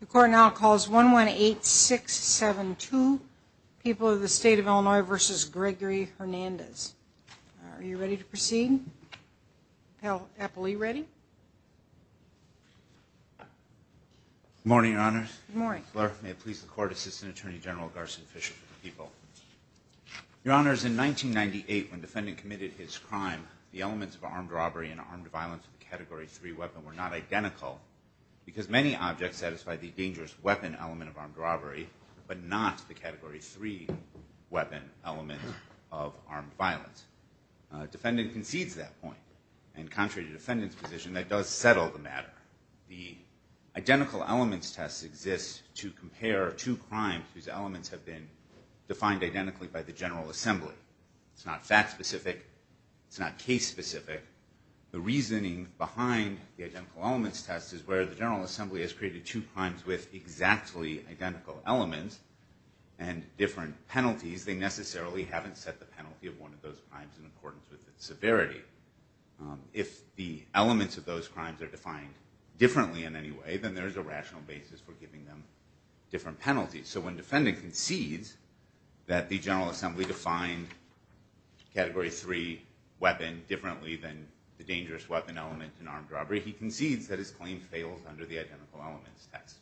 The court now calls 118672, People of the State of Illinois v. Gregory Hernandez. Are you ready to proceed? Appellee, ready? Good morning, Your Honors. Good morning. May it please the Court, Assistant Attorney General Garson Fisher for the People. Your Honors, in 1998, when the defendant committed his crime, the elements of armed robbery and armed violence in the Category 3 weapon were not identical because many objects satisfy the dangerous weapon element of armed robbery but not the Category 3 weapon element of armed violence. A defendant concedes that point. And contrary to the defendant's position, that does settle the matter. The identical elements test exists to compare two crimes whose elements have been defined identically by the General Assembly. It's not fact-specific. It's not case-specific. The reasoning behind the identical elements test is where the General Assembly has created two crimes with exactly identical elements and different penalties. They necessarily haven't set the penalty of one of those crimes in accordance with its severity. If the elements of those crimes are defined differently in any way, then there is a rational basis for giving them different penalties. So when the defendant concedes that the General Assembly defined Category 3 weapon differently than the dangerous weapon element in armed robbery, he concedes that his claim fails under the identical elements test.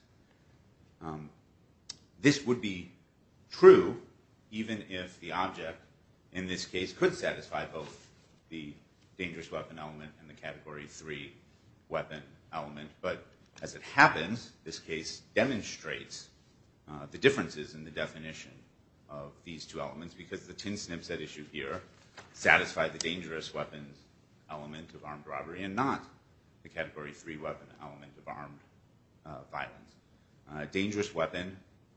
This would be true even if the object, in this case, could satisfy both the dangerous weapon element and the Category 3 weapon element. But as it happens, this case demonstrates the differences in the definition of these two elements because the tin snip set issue here satisfied the dangerous weapon element of armed robbery and not the Category 3 weapon element of armed violence. A dangerous weapon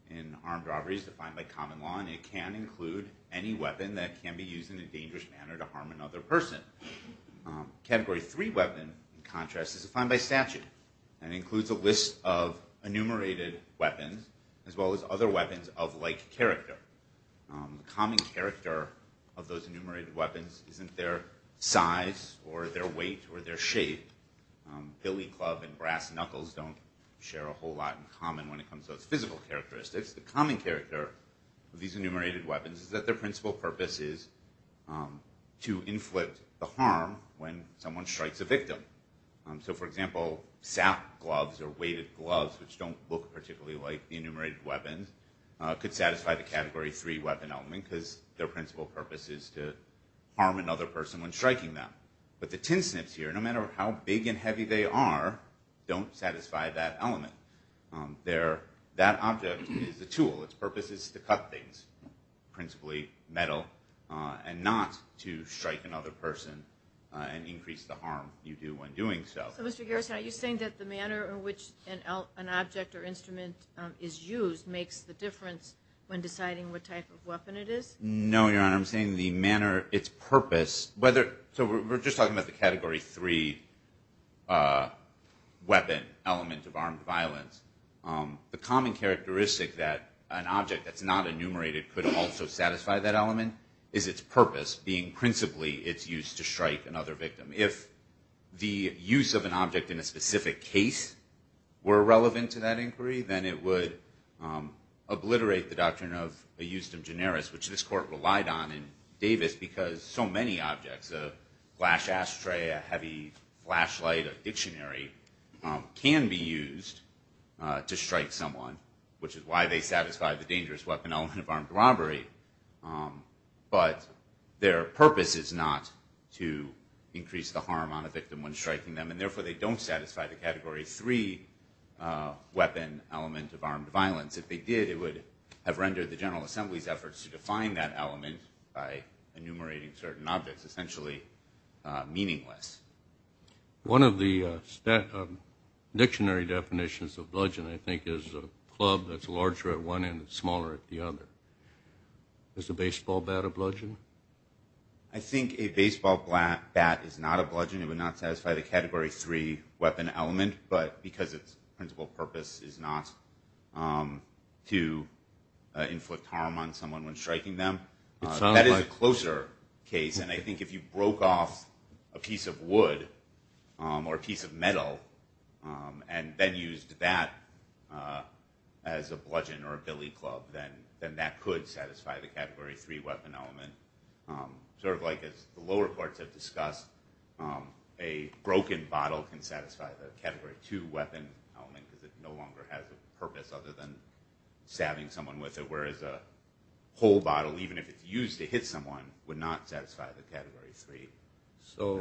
in armed robbery is defined by common law, and it can include any weapon that can be used in a dangerous manner to harm another person. A Category 3 weapon, in contrast, is defined by statute and includes a list of enumerated weapons as well as other weapons of like character. The common character of those enumerated weapons isn't their size or their weight or their shape. Billy club and brass knuckles don't share a whole lot in common when it comes to those physical characteristics. The common character of these enumerated weapons is that their principal purpose is to inflict the harm when someone strikes a victim. So, for example, SAP gloves or weighted gloves, which don't look particularly like the enumerated weapons, could satisfy the Category 3 weapon element because their principal purpose is to harm another person when striking them. But the tin snips here, no matter how big and heavy they are, don't satisfy that element. That object is a tool. Its purpose is to cut things, principally metal, and not to strike another person and increase the harm you do when doing so. So, Mr. Garrison, are you saying that the manner in which an object or instrument is used makes the difference when deciding what type of weapon it is? No, Your Honor. I'm saying the manner, its purpose. So we're just talking about the Category 3 weapon element of armed violence. The common characteristic that an object that's not enumerated could also satisfy that element is its purpose being principally its use to strike another victim. If the use of an object in a specific case were relevant to that inquiry, then it would obliterate the doctrine of a justum generis, which this Court relied on in Davis because so many objects, a flash ashtray, a heavy flashlight, a dictionary, can be used to strike someone, which is why they satisfy the dangerous weapon element of armed robbery. But their purpose is not to increase the harm on a victim when striking them, and therefore they don't satisfy the Category 3 weapon element of armed violence. If they did, it would have rendered the General Assembly's efforts to define that element by enumerating certain objects essentially meaningless. One of the dictionary definitions of bludgeon, I think, is a club that's larger at one end and smaller at the other. Is a baseball bat a bludgeon? I think a baseball bat is not a bludgeon. It would not satisfy the Category 3 weapon element, but because its principal purpose is not to inflict harm on someone when striking them. That is a closer case, and I think if you broke off a piece of wood or a piece of metal and then used that as a bludgeon or a billy club, then that could satisfy the Category 3 weapon element. Sort of like as the lower courts have discussed, a broken bottle can satisfy the Category 2 weapon element because it no longer has a purpose other than stabbing someone with it, whereas a whole bottle, even if it's used to hit someone, would not satisfy the Category 3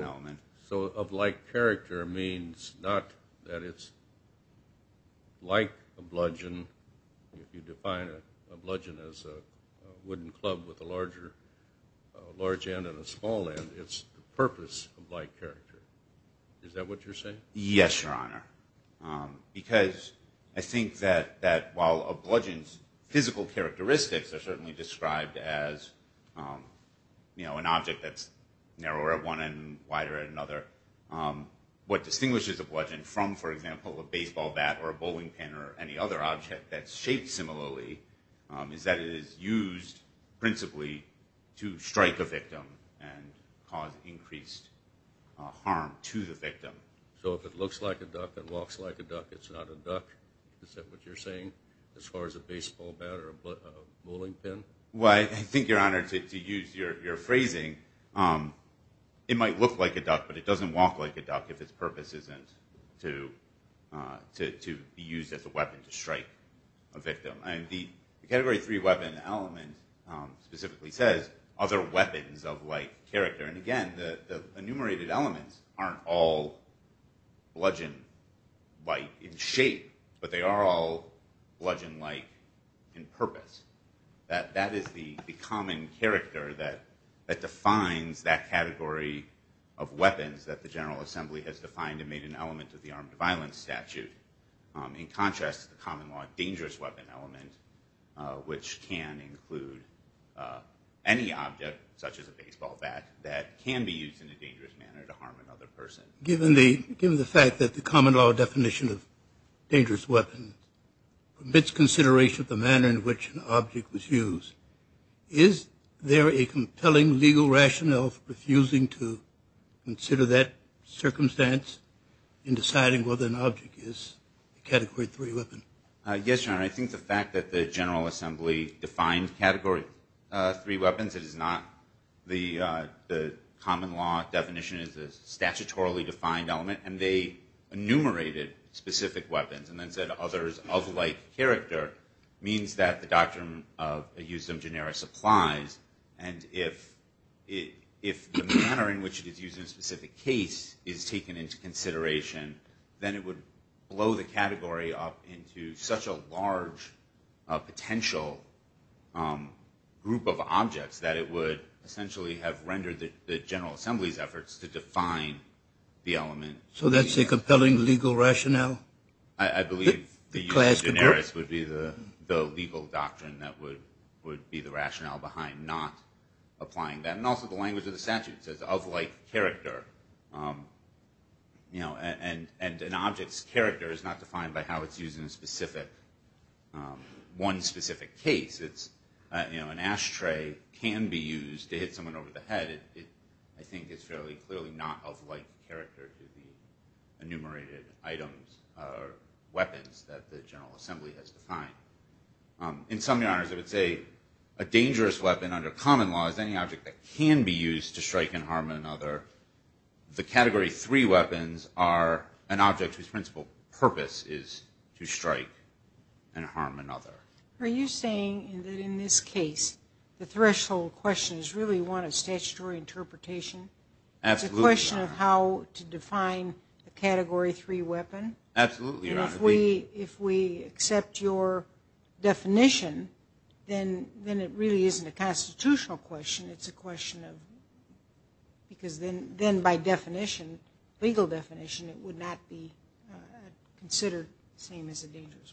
element. So of like character means not that it's like a bludgeon. If you define a bludgeon as a wooden club with a large end and a small end, it's the purpose of like character. Is that what you're saying? Yes, Your Honor, because I think that while a bludgeon's physical characteristics are certainly described as, you know, an object that's narrower at one end and wider at another, what distinguishes a bludgeon from, for example, a baseball bat or a bowling pin or any other object that's shaped similarly is that it is used principally to strike a victim and cause increased harm to the victim. So if it looks like a duck and walks like a duck, it's not a duck? Is that what you're saying as far as a baseball bat or a bowling pin? Well, I think, Your Honor, to use your phrasing, it might look like a duck, but it doesn't walk like a duck if its purpose isn't to be used as a weapon to strike a victim. And the Category 3 weapon element specifically says other weapons of like character. And again, the enumerated elements aren't all bludgeon-like in shape, but they are all bludgeon-like in purpose. That is the common character that defines that category of weapons that the General Assembly has defined and made an element of the armed violence statute. In contrast, the common law dangerous weapon element, which can include any object, such as a baseball bat, that can be used in a dangerous manner to harm another person. Given the fact that the common law definition of dangerous weapons omits consideration of the manner in which an object was used, is there a compelling legal rationale for refusing to consider that circumstance in deciding whether an object is a Category 3 weapon? Yes, Your Honor. I think the fact that the General Assembly defined Category 3 weapons, since the common law definition is a statutorily defined element, and they enumerated specific weapons and then said others of like character, means that the doctrine used in generis applies. And if the manner in which it is used in a specific case is taken into consideration, then it would blow the category up into such a large potential group of objects that it would essentially have rendered the General Assembly's efforts to define the element. So that's a compelling legal rationale? I believe the use of generis would be the legal doctrine that would be the rationale behind not applying that. And also the language of the statute says of like character. And an object's character is not defined by how it's used in one specific case. An ashtray can be used to hit someone over the head. I think it's fairly clearly not of like character to the enumerated items or weapons that the General Assembly has defined. In sum, Your Honors, I would say a dangerous weapon under common law is any object that can be used to strike and harm another. The Category 3 weapons are an object whose principal purpose is to strike and harm another. Are you saying that in this case the threshold question is really one of statutory interpretation? Absolutely, Your Honor. It's a question of how to define a Category 3 weapon? Absolutely, Your Honor. If we accept your definition, then it really isn't a constitutional question. It's a question of because then by definition, legal definition, it would not be considered the same as a dangerous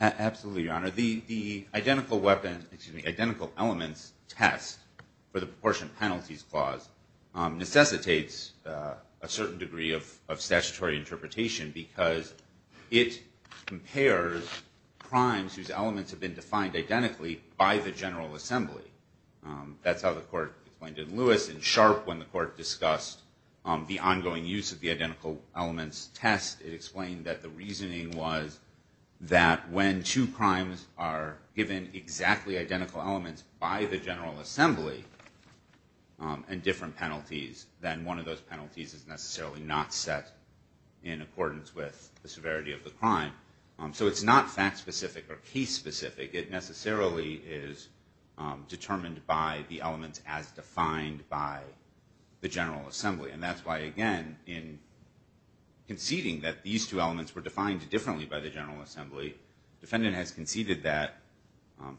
weapon. Absolutely, Your Honor. The Identical Elements Test for the Proportion Penalties Clause necessitates a certain degree of statutory interpretation because it compares crimes whose elements have been defined identically by the General Assembly. That's how the Court explained it in Lewis and Sharp when the Court discussed the ongoing use of the Identical Elements Test. It explained that the reasoning was that when two crimes are given exactly identical elements by the General Assembly and different penalties, then one of those penalties is necessarily not set in accordance with the severity of the crime. So it's not fact-specific or case-specific. It necessarily is determined by the elements as defined by the General Assembly. And that's why, again, in conceding that these two elements were defined differently by the General Assembly, the defendant has conceded that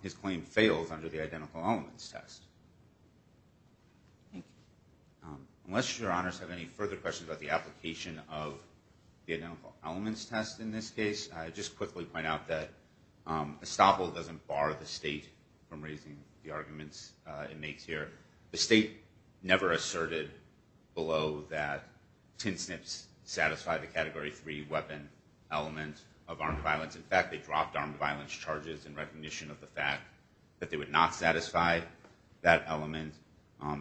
his claim fails under the Identical Elements Test. Thank you. Unless Your Honors have any further questions about the application of the Identical Elements Test in this case, I'd just quickly point out that Estoppel doesn't bar the state from raising the arguments it makes here. The state never asserted below that tin snips satisfied the Category 3 weapon element of armed violence. In fact, they dropped armed violence charges in recognition of the fact that they would not satisfy that element.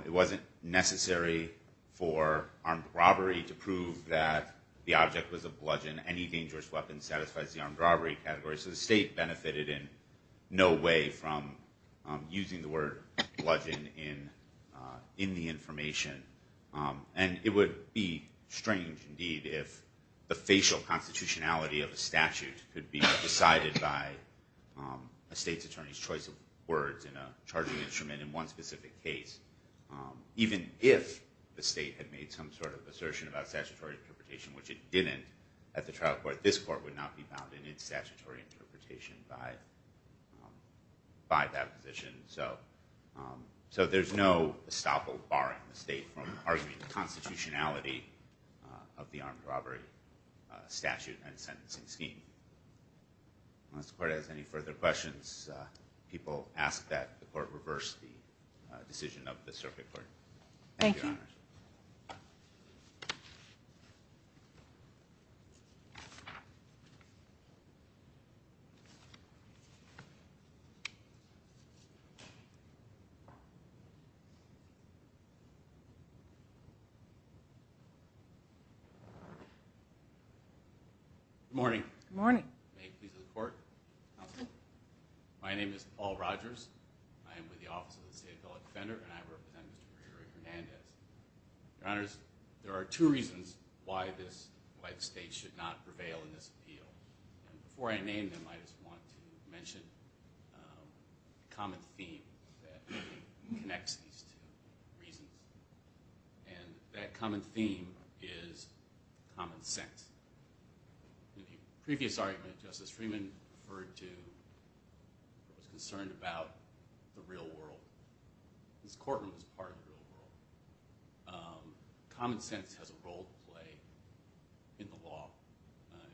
It wasn't necessary for armed robbery to prove that the object was a bludgeon. Any dangerous weapon satisfies the armed robbery category. So the state benefited in no way from using the word bludgeon in the information. And it would be strange, indeed, if the facial constitutionality of a statute could be decided by a state's attorney's choice of words in a charging instrument in one specific case. Even if the state had made some sort of assertion about statutory interpretation, which it didn't at the trial court, this court would not be bound in its statutory interpretation by that position. So there's no Estoppel barring the state from arguing the constitutionality of the armed robbery statute and sentencing scheme. Unless the court has any further questions, people ask that the court reverse the decision of the circuit court. Thank you, Your Honors. Thank you. Good morning. Good morning. May it please the court, counsel. My name is Paul Rogers. I am with the Office of the State Appellate Defender, and I represent Mr. Gregory Hernandez. Your Honors, there are two reasons why the state should not prevail in this appeal. Before I name them, I just want to mention a common theme that connects these two reasons. And that common theme is common sense. In the previous argument, Justice Freeman referred to a courtroom that was concerned about the real world. This courtroom is part of the real world. Common sense has a role to play in the law,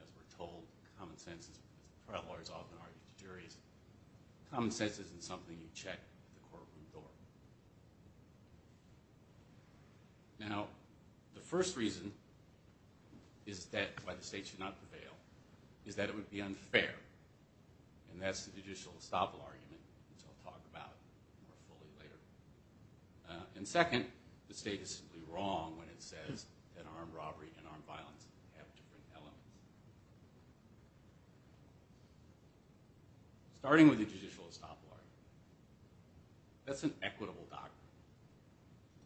as we're told. Common sense is what trial lawyers often argue to juries. Common sense isn't something you check at the courtroom door. Now, the first reason is that why the state should not prevail is that it would be unfair. And that's the judicial estoppel argument, which I'll talk about more fully later. And second, the state is simply wrong when it says that armed robbery and armed violence have different elements. Starting with the judicial estoppel argument, that's an equitable doctrine.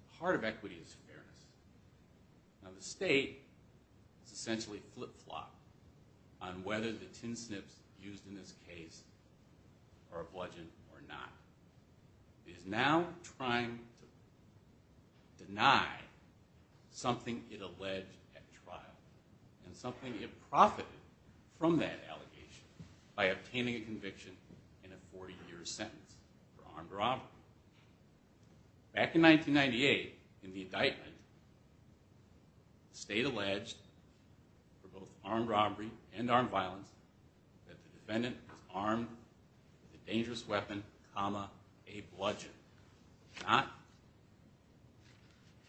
The heart of equity is fairness. Now, the state is essentially flip-flop on whether the tin snips used in this case are bludgeoned or not. It is now trying to deny something it alleged at trial and something it profited from that allegation by obtaining a conviction and a 40-year sentence for armed robbery. Back in 1998, in the indictment, the state alleged for both armed robbery and armed violence that the defendant was armed with a dangerous weapon, comma, a bludgeon, not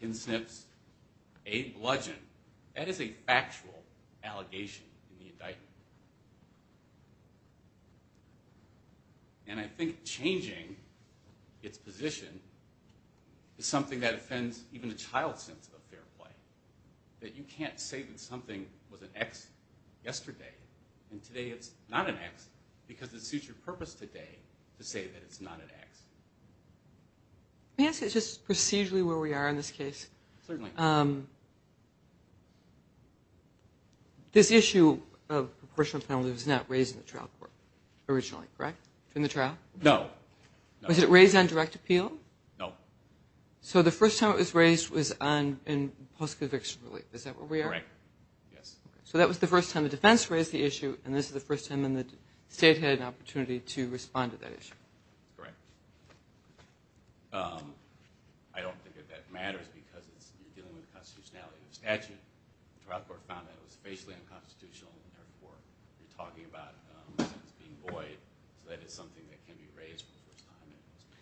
tin snips, a bludgeon. That is a factual allegation in the indictment. And I think changing its position is something that offends even a child's sense of fair play, that you can't say that something was an X yesterday and today it's not an X because it suits your purpose today to say that it's not an X. May I say just procedurally where we are in this case? Certainly. All right. This issue of proportional penalties was not raised in the trial court originally, correct, in the trial? No. Was it raised on direct appeal? No. So the first time it was raised was in post-conviction relief. Is that where we are? Correct. Yes. So that was the first time the defense raised the issue, and this is the first time the state had an opportunity to respond to that issue. Correct. I don't think that that matters because you're dealing with the constitutionality of the statute. The trial court found that it was basically unconstitutional in their court. You're talking about a sentence being void, so that is something that can be raised for the first time in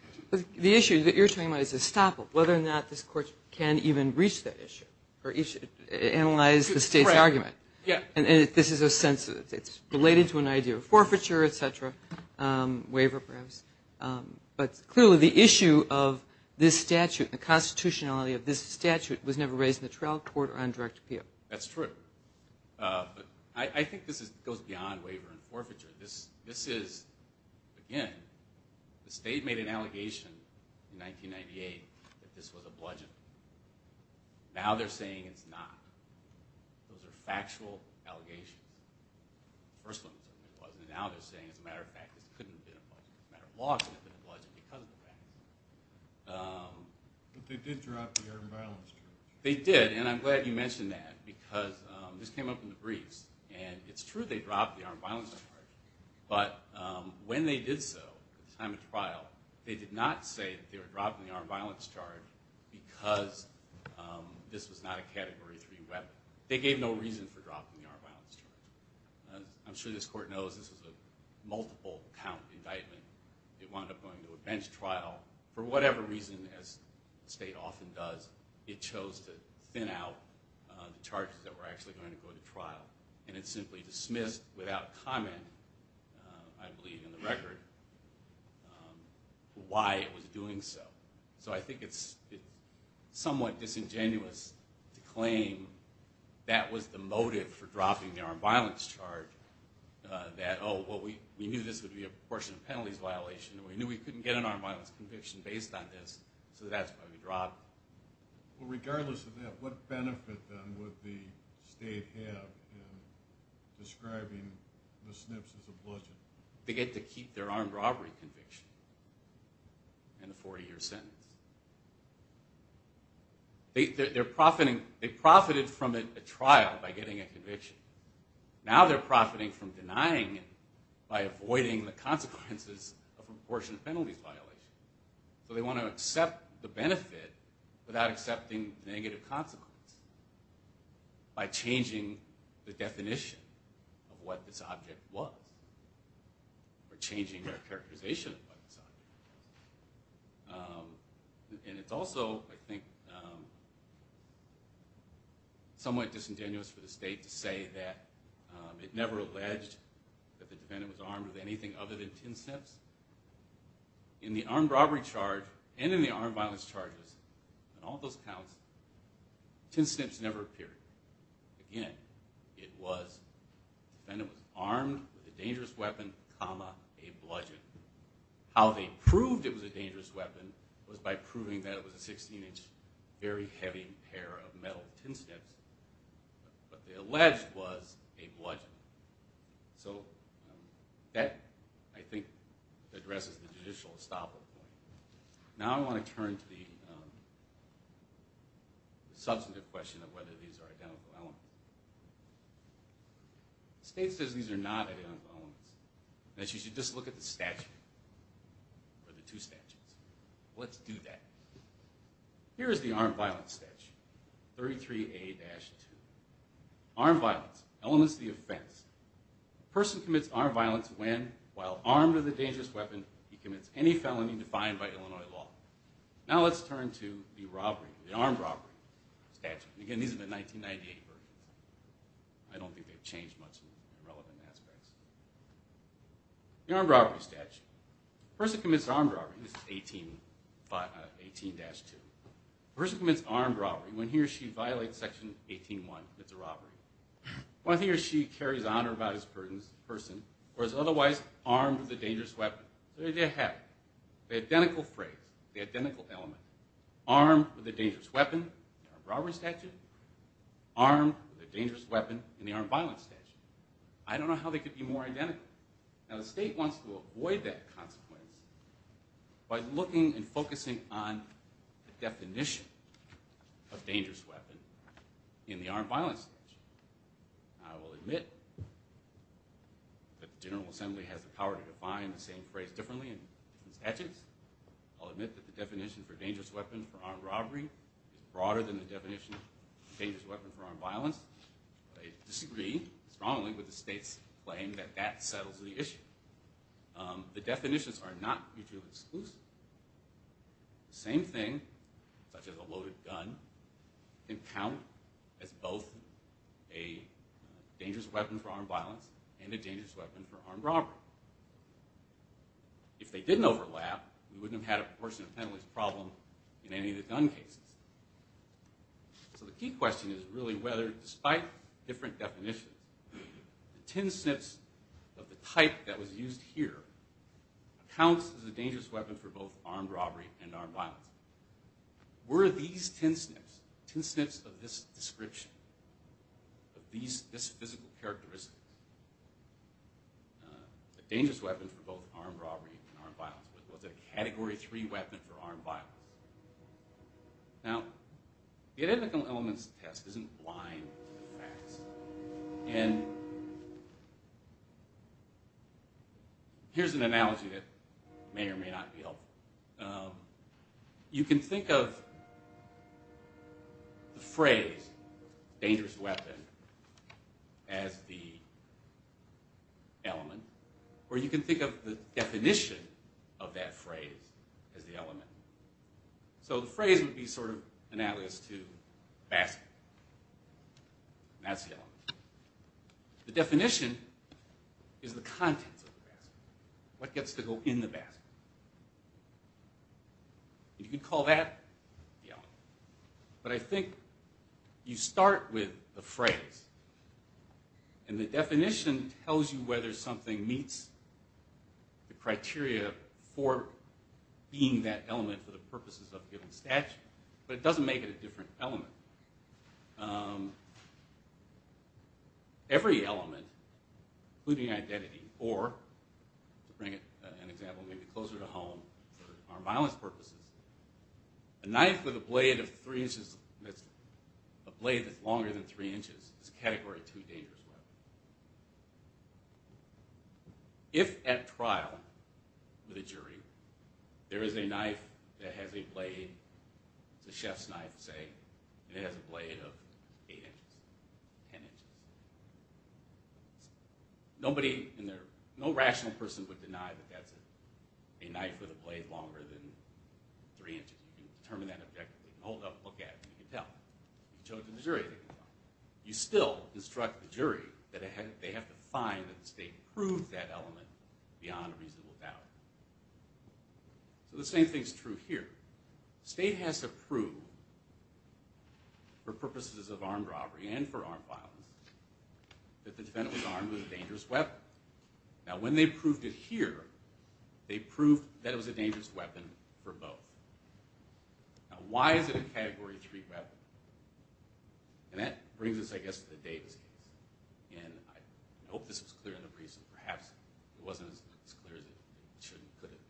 post-conviction. The issue that you're talking about is estoppel, whether or not this court can even reach that issue or analyze the state's argument. Yeah. And this is a sense that it's related to an idea of forfeiture, et cetera, waiver perhaps. But clearly the issue of this statute, the constitutionality of this statute, was never raised in the trial court or on direct appeal. That's true. I think this goes beyond waiver and forfeiture. This is, again, the state made an allegation in 1998 that this was a bludgeon. Now they're saying it's not. Those are factual allegations. The first one was that it wasn't, and now they're saying, as a matter of fact, it couldn't have been a bludgeon. As a matter of law, it could have been a bludgeon because of the fact. But they did drop the armed violence charge. They did, and I'm glad you mentioned that, because this came up in the briefs. And it's true they dropped the armed violence charge, but when they did so at the time of trial, they did not say that they were dropping the armed violence charge because this was not a Category 3 weapon. They gave no reason for dropping the armed violence charge. I'm sure this court knows this was a multiple count indictment. It wound up going to a bench trial. For whatever reason, as the state often does, it chose to thin out the charges that were actually going to go to trial, and it simply dismissed without comment, I believe in the record, why it was doing so. So I think it's somewhat disingenuous to claim that was the motive for dropping the armed violence charge, that, oh, well, we knew this would be a portion of penalties violation, and we knew we couldn't get an armed violence conviction based on this, so that's why we dropped it. Well, regardless of that, what benefit, then, would the state have in describing the SNPs as a bludgeon? They get to keep their armed robbery conviction and the 40-year sentence. They profited from a trial by getting a conviction. Now they're profiting from denying it by avoiding the consequences of a portion of penalties violation. So they want to accept the benefit without accepting the negative consequence by changing the definition of what this object was or changing their characterization of what this object was. And it's also, I think, somewhat disingenuous for the state to say that it never alleged that the defendant was armed with anything other than tin snips. In the armed robbery charge and in the armed violence charges, in all those counts, tin snips never appeared. Again, it was the defendant was armed with a dangerous weapon, comma, a bludgeon. How they proved it was a dangerous weapon was by proving that it was a 16-inch, very heavy pair of metal tin snips, but they alleged was a bludgeon. So that, I think, addresses the judicial estoppel point. Now I want to turn to the substantive question of whether these are identical elements. The state says these are not identical elements. That you should just look at the statute, or the two statutes. Let's do that. Here is the armed violence statute, 33A-2. Armed violence, elements of the offense. A person commits armed violence when, while armed with a dangerous weapon, he commits any felony defined by Illinois law. Now let's turn to the armed robbery statute. Again, these are the 1998 versions. I don't think they've changed much in relevant aspects. The armed robbery statute. A person commits armed robbery, this is 18-2. A person commits armed robbery when he or she violates section 18-1, commits a robbery, when he or she carries an unauthorized person, or is otherwise armed with a dangerous weapon. They have the identical phrase, the identical element. Armed with a dangerous weapon, armed robbery statute. Armed with a dangerous weapon in the armed violence statute. I don't know how they could be more identical. Now the state wants to avoid that consequence by looking and focusing on the definition of dangerous weapon in the armed violence statute. I will admit that the General Assembly has the power to define the same phrase differently in statutes. I'll admit that the definition for dangerous weapon for armed robbery is broader than the definition for dangerous weapon for armed violence. I disagree strongly with the state's claim that that settles the issue. The definitions are not mutually exclusive. The same thing, such as a loaded gun, can count as both a dangerous weapon for armed violence and a dangerous weapon for armed robbery. If they didn't overlap, we wouldn't have had a proportionate penalties problem in any of the gun cases. So the key question is really whether, despite different definitions, the tin snips of the type that was used here counts as a dangerous weapon for both armed robbery and armed violence. Were these tin snips, tin snips of this description, of these physical characteristics, a dangerous weapon for both armed robbery and armed violence? Was it a Category 3 weapon for armed violence? Now, the Identical Elements Test isn't blind to the facts. And here's an analogy that may or may not be helpful. You can think of the phrase, dangerous weapon, as the element. Or you can think of the definition of that phrase as the element. So the phrase would be sort of analogous to basket. And that's the element. The definition is the contents of the basket. What gets to go in the basket? You could call that the element. But I think you start with the phrase. And the definition tells you whether something meets the criteria for being that element for the purposes of a given statute. But it doesn't make it a different element. Every element, including identity, or to bring an example maybe closer to home, for armed violence purposes, a knife with a blade that's longer than three inches is a Category 2 dangerous weapon. If at trial, with a jury, there is a knife that has a blade, it's a chef's knife, say, and it has a blade of eight inches, ten inches. Nobody, no rational person would deny that that's a knife with a blade longer than three inches. You can determine that objectively. You can hold up, look at it, and you can tell. You can show it to the jury. You still instruct the jury that they have to find that the state proved that element beyond a reasonable doubt. So the same thing is true here. The state has to prove, for purposes of armed robbery and for armed violence, that the defendant was armed with a dangerous weapon. Now, when they proved it here, they proved that it was a dangerous weapon for both. Now, why is it a Category 3 weapon? And that brings us, I guess, to the Davis case. And I hope this was clear in the briefs, because perhaps it wasn't as clear as it could have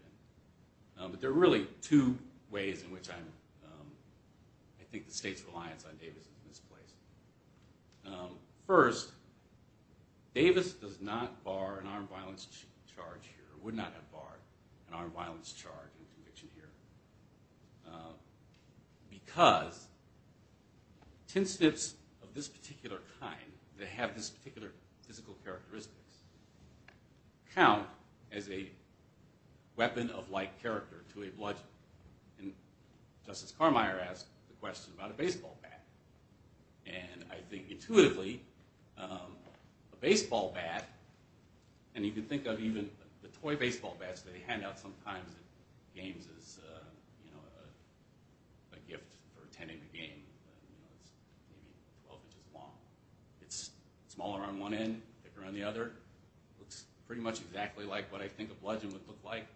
been. But there are really two ways in which I think the state's reliance on Davis is misplaced. First, Davis does not bar an armed violence charge here, would not have barred an armed violence charge in conviction here, because tin snips of this particular kind, that have this particular physical characteristics, count as a weapon of like character to a bludgeon. And Justice Carmeier asked the question about a baseball bat. And I think intuitively, a baseball bat, and you can think of even the toy baseball bats that they hand out sometimes at games as a gift for attending the game, but it's maybe 12 inches long. It's smaller on one end, thicker on the other. Looks pretty much exactly like what I think a bludgeon would look like.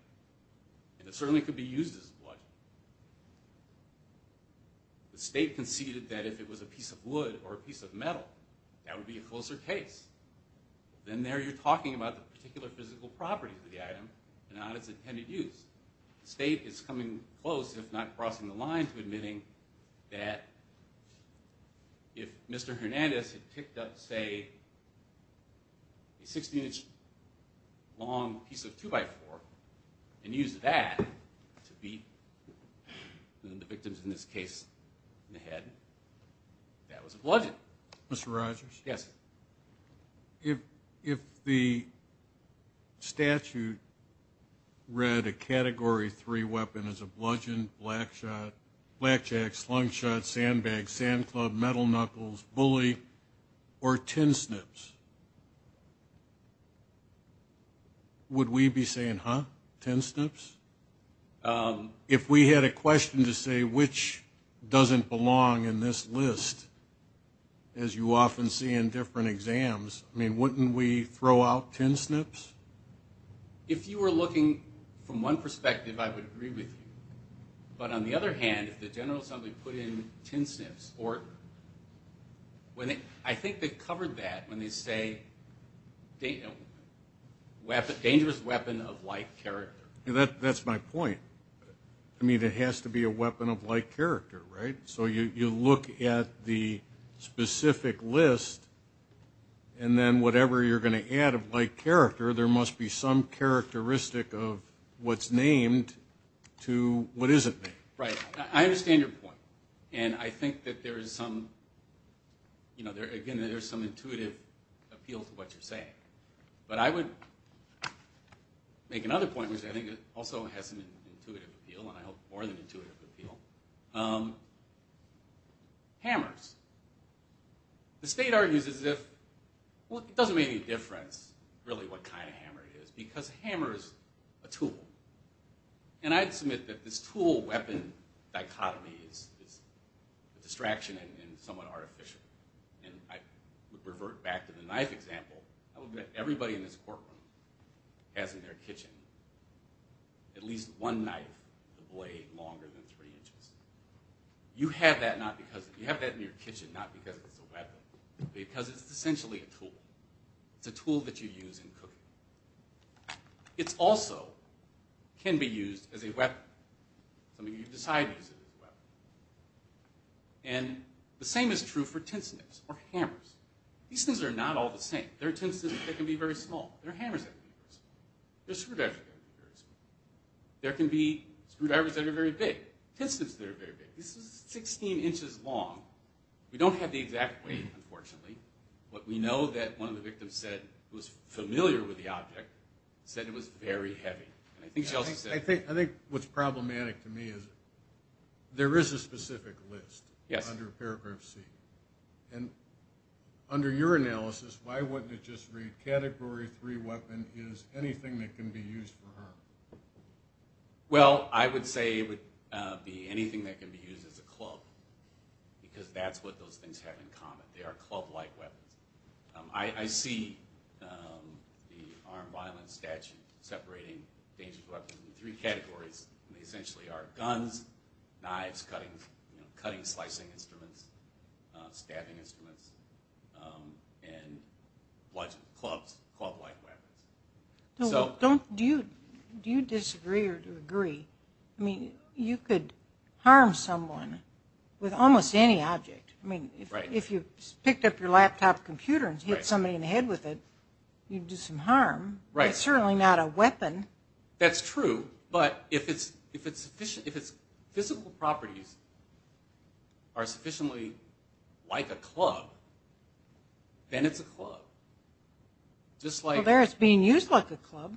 And it certainly could be used as a bludgeon. The state conceded that if it was a piece of wood or a piece of metal, that would be a closer case. Then there you're talking about the particular physical properties of the item, and not its intended use. The state is coming close, if not crossing the line, to admitting that if Mr. Hernandez had picked up, say, a 16-inch long piece of 2x4 and used that to beat the victims, in this case, in the head, that was a bludgeon. Mr. Rogers? Yes. If the statute read a Category 3 weapon as a bludgeon, blackjack, slingshot, sandbag, sand club, metal knuckles, bully, or tin snips, would we be saying, huh, tin snips? If we had a question to say which doesn't belong in this list, as you often see in different exams, wouldn't we throw out tin snips? If you were looking from one perspective, I would agree with you. But on the other hand, if the General Assembly put in tin snips, I think they covered that when they say dangerous weapon of like character. That's my point. I mean, it has to be a weapon of like character, right? So you look at the specific list, and then whatever you're going to add of like character, there must be some characteristic of what's named to what isn't named. Right. I understand your point. And I think that there is some intuitive appeal to what you're saying. But I would make another point, which I think also has an intuitive appeal, and I hope more than intuitive appeal. Hammers. The state argues as if, well, it doesn't make any difference, really, what kind of hammer it is, because a hammer is a tool. And I'd submit that this tool-weapon dichotomy is a distraction and somewhat artificial. And I would revert back to the knife example. I would bet everybody in this courtroom has in their kitchen at least one knife with a blade longer than three inches. You have that in your kitchen not because it's a weapon, but because it's essentially a tool. It's a tool that you use in cooking. It also can be used as a weapon. I mean, you decide to use it as a weapon. And the same is true for tin snips or hammers. These things are not all the same. There are tin snips that can be very small. There are hammers that can be very small. There are screwdrivers that can be very small. There can be screwdrivers that are very big, tin snips that are very big. This is 16 inches long. We don't have the exact weight, unfortunately. But we know that one of the victims said, who was familiar with the object, said it was very heavy. I think what's problematic to me is there is a specific list under Paragraph C. And under your analysis, why wouldn't it just read, category three weapon is anything that can be used for harm? Well, I would say it would be anything that can be used as a club because that's what those things have in common. They are club-like weapons. I see the armed violence statute separating dangerous weapons in three categories. They essentially are guns, knives, cutting, slicing instruments, stabbing instruments, and club-like weapons. Do you disagree or agree? You could harm someone with almost any object. If you picked up your laptop computer and hit somebody in the head with it, you'd do some harm. It's certainly not a weapon. That's true. But if its physical properties are sufficiently like a club, then it's a club. Well, there it's being used like a club.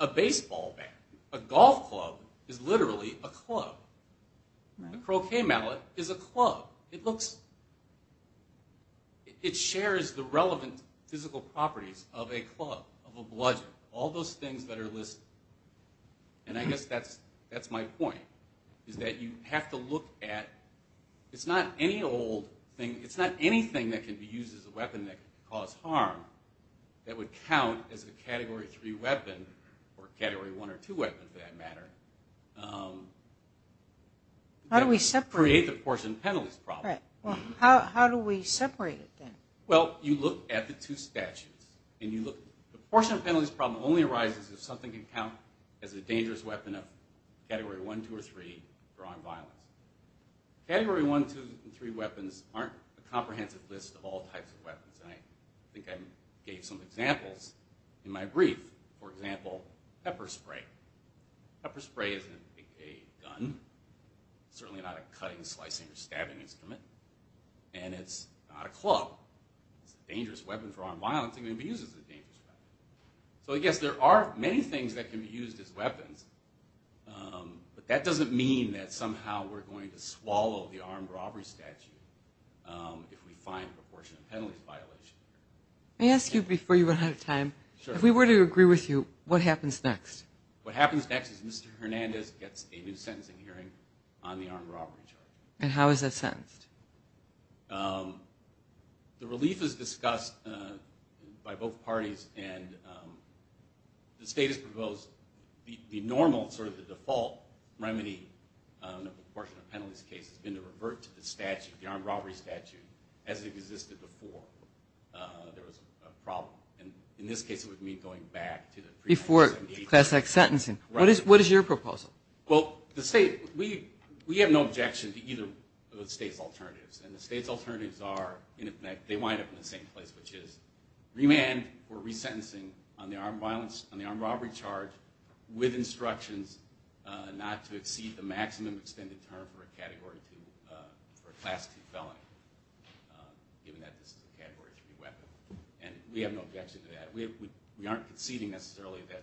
A baseball bat, a golf club is literally a club. A croquet mallet is a club. It shares the relevant physical properties of a club, of a bludgeon. All those things that are listed, and I guess that's my point, is that you have to look at it's not any old thing. It's not anything that can be used as a weapon that can cause harm that would count as a Category 3 weapon or a Category 1 or 2 weapon, for that matter. How do we separate it? Create the portion of penalties problem. How do we separate it then? Well, you look at the two statutes. The portion of penalties problem only arises if something can count as a dangerous weapon of Category 1, 2, or 3 for armed violence. Category 1, 2, and 3 weapons aren't a comprehensive list of all types of weapons. I think I gave some examples in my brief. For example, pepper spray. Pepper spray isn't a gun. It's certainly not a cutting, slicing, or stabbing instrument. And it's not a club. It's a dangerous weapon for armed violence and can be used as a dangerous weapon. So, I guess there are many things that can be used as weapons, but that doesn't mean that somehow we're going to swallow the armed robbery statute if we find a proportion of penalties violation. Let me ask you before you run out of time, if we were to agree with you, what happens next? What happens next is Mr. Hernandez gets a new sentencing hearing on the armed robbery charge. And how is that sentenced? The relief is discussed by both parties, and the state has proposed the normal sort of the default remedy in the portion of penalties case has been to revert to the statute, the armed robbery statute, as it existed before there was a problem. And in this case, it would mean going back to the pre-1978 statute. Before classic sentencing. Right. What is your proposal? Well, the state, we have no objection to either of the state's alternatives. And the state's alternatives are, they wind up in the same place, which is remand or resentencing on the armed violence, on the armed robbery charge with instructions not to exceed the maximum extended term for a category 2, for a class 2 felony, given that this is a category 3 weapon. And we have no objection to that. We aren't conceding necessarily that,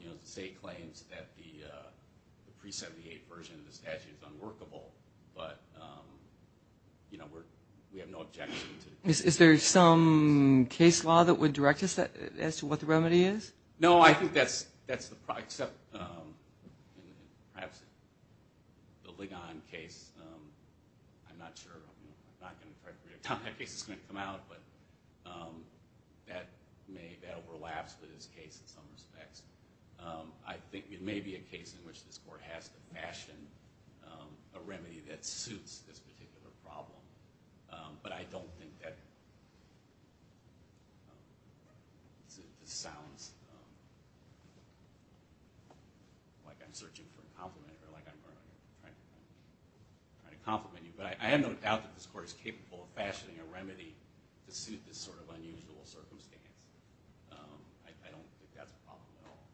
you know, the state claims that the pre-1978 version of the statute is unworkable. But, you know, we have no objection. Is there some case law that would direct us as to what the remedy is? No, I think that's the, except perhaps the Ligon case. I'm not sure. I'm not going to try to predict how that case is going to come out. But that overlaps with this case in some respects. I think it may be a case in which this court has to fashion a remedy that suits this particular problem. But I don't think that sounds like I'm searching for a compliment or like I'm trying to compliment you. But I have no doubt that this court is capable of fashioning a remedy to suit this sort of unusual circumstance. I don't think that's a problem at all.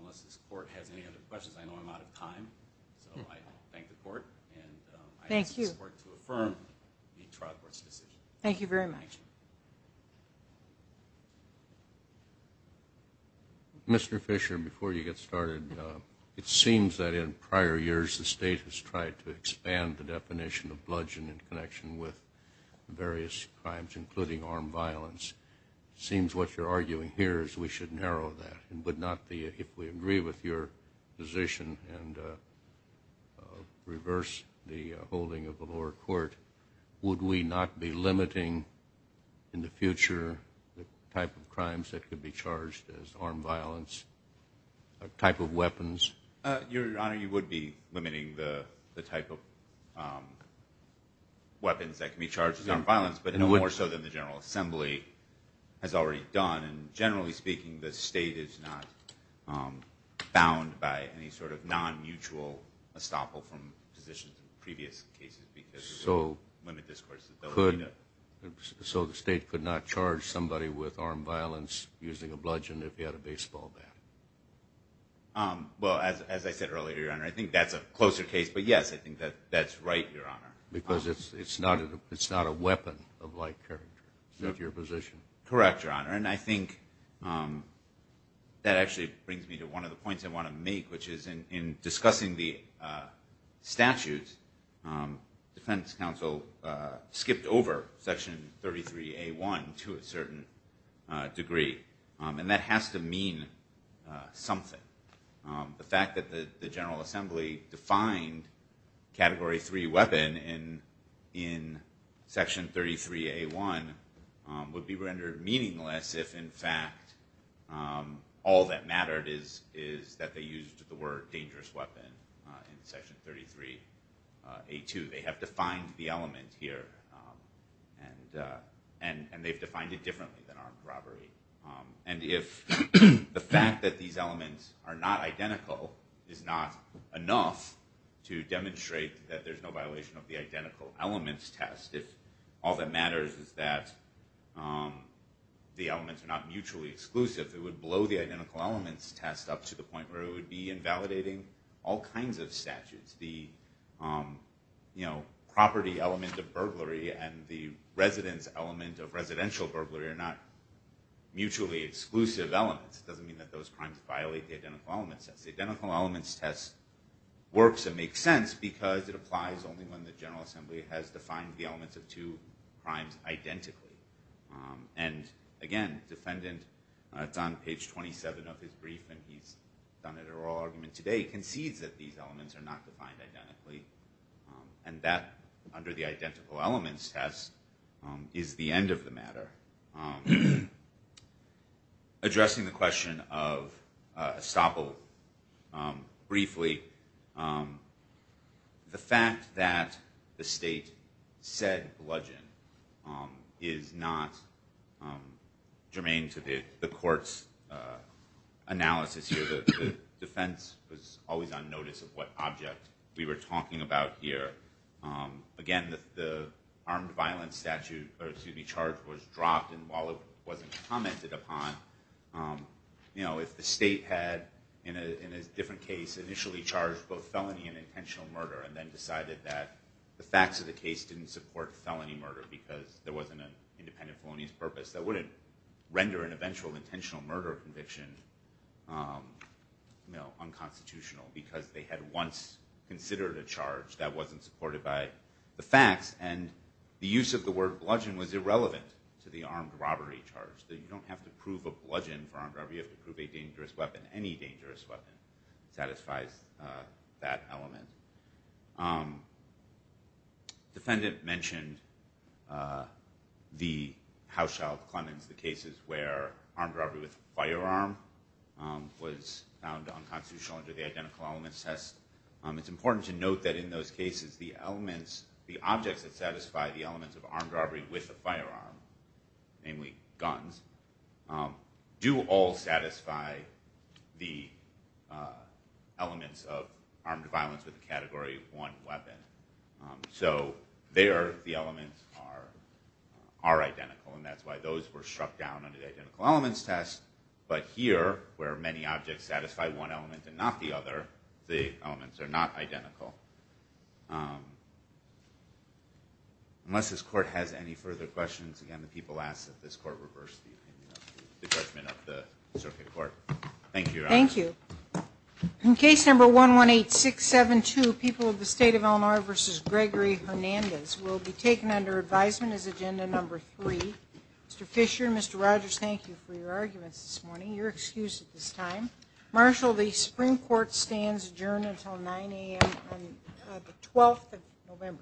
Unless this court has any other questions, I know I'm out of time. So I thank the court. And I ask this court to affirm the trial court's decision. Thank you very much. Mr. Fisher, before you get started, it seems that in prior years the state has tried to expand the definition of bludgeoning in connection with various crimes, including armed violence. It seems what you're arguing here is we should narrow that. If we agree with your position and reverse the holding of the lower court, would we not be limiting in the future the type of crimes that could be charged as armed violence, a type of weapons? Your Honor, you would be limiting the type of weapons that can be charged as armed violence, but more so than the General Assembly has already done. And generally speaking, the state is not bound by any sort of non-mutual estoppel from positions in previous cases because it would limit discourse. So the state could not charge somebody with armed violence using a bludgeon if he had a baseball bat? Well, as I said earlier, Your Honor, I think that's a closer case. But, yes, I think that's right, Your Honor. Because it's not a weapon of like character. Is that your position? Correct, Your Honor. And I think that actually brings me to one of the points I want to make, which is in discussing the statutes, defense counsel skipped over Section 33A1 to a certain degree. And that has to mean something. The fact that the General Assembly defined Category 3 weapon in Section 33A1 would be rendered meaningless if, in fact, all that mattered is that they used the word dangerous weapon in Section 33A2. They have defined the element here. And they've defined it differently than armed robbery. And if the fact that these elements are not identical is not enough to demonstrate that there's no violation of the identical elements test, if all that matters is that the elements are not mutually exclusive, it would blow the identical elements test up to the point where it would be invalidating all kinds of statutes. The property element of burglary and the residence element of residential burglary are not mutually exclusive elements. It doesn't mean that those crimes violate the identical elements test. The identical elements test works and makes sense because it applies only when the General Assembly has defined the elements of two crimes identically. And, again, defendant, it's on page 27 of his brief, and he's done it at oral argument today, concedes that these elements are not defined identically. And that, under the identical elements test, is the end of the matter. Addressing the question of estoppel briefly, the fact that the state said bludgeon is not germane to the court's analysis here. The defense was always on notice of what object we were talking about here. Again, the armed violence statute to be charged was dropped, and while it wasn't commented upon, if the state had, in a different case, initially charged both felony and intentional murder, and then decided that the facts of the case didn't support felony murder because there wasn't an independent felonious purpose, that wouldn't render an eventual intentional murder conviction unconstitutional because they had once considered a charge that wasn't supported by the facts, and the use of the word bludgeon was irrelevant to the armed robbery charge. You don't have to prove a bludgeon for armed robbery, you have to prove a dangerous weapon. Any dangerous weapon satisfies that element. Defendant mentioned the Hauschildt-Clemens, the cases where armed robbery with a firearm was found unconstitutional under the Identical Elements Test. It's important to note that in those cases, the objects that satisfy the elements of armed robbery with a firearm, namely guns, do all satisfy the elements of armed violence with the category of one weapon. So there the elements are identical, and that's why those were struck down under the Identical Elements Test, but here where many objects satisfy one element and not the other, the elements are not identical. Unless this court has any further questions, again the people ask that this court reverse the judgment of the circuit court. Thank you, Your Honor. Thank you. In case number 118672, people of the state of Illinois versus Gregory Hernandez will be taken under advisement as agenda number three. Mr. Fisher and Mr. Rogers, thank you for your arguments this morning. You're excused at this time. Marshal, the Supreme Court stands adjourned until 9 a.m. on the 12th of November.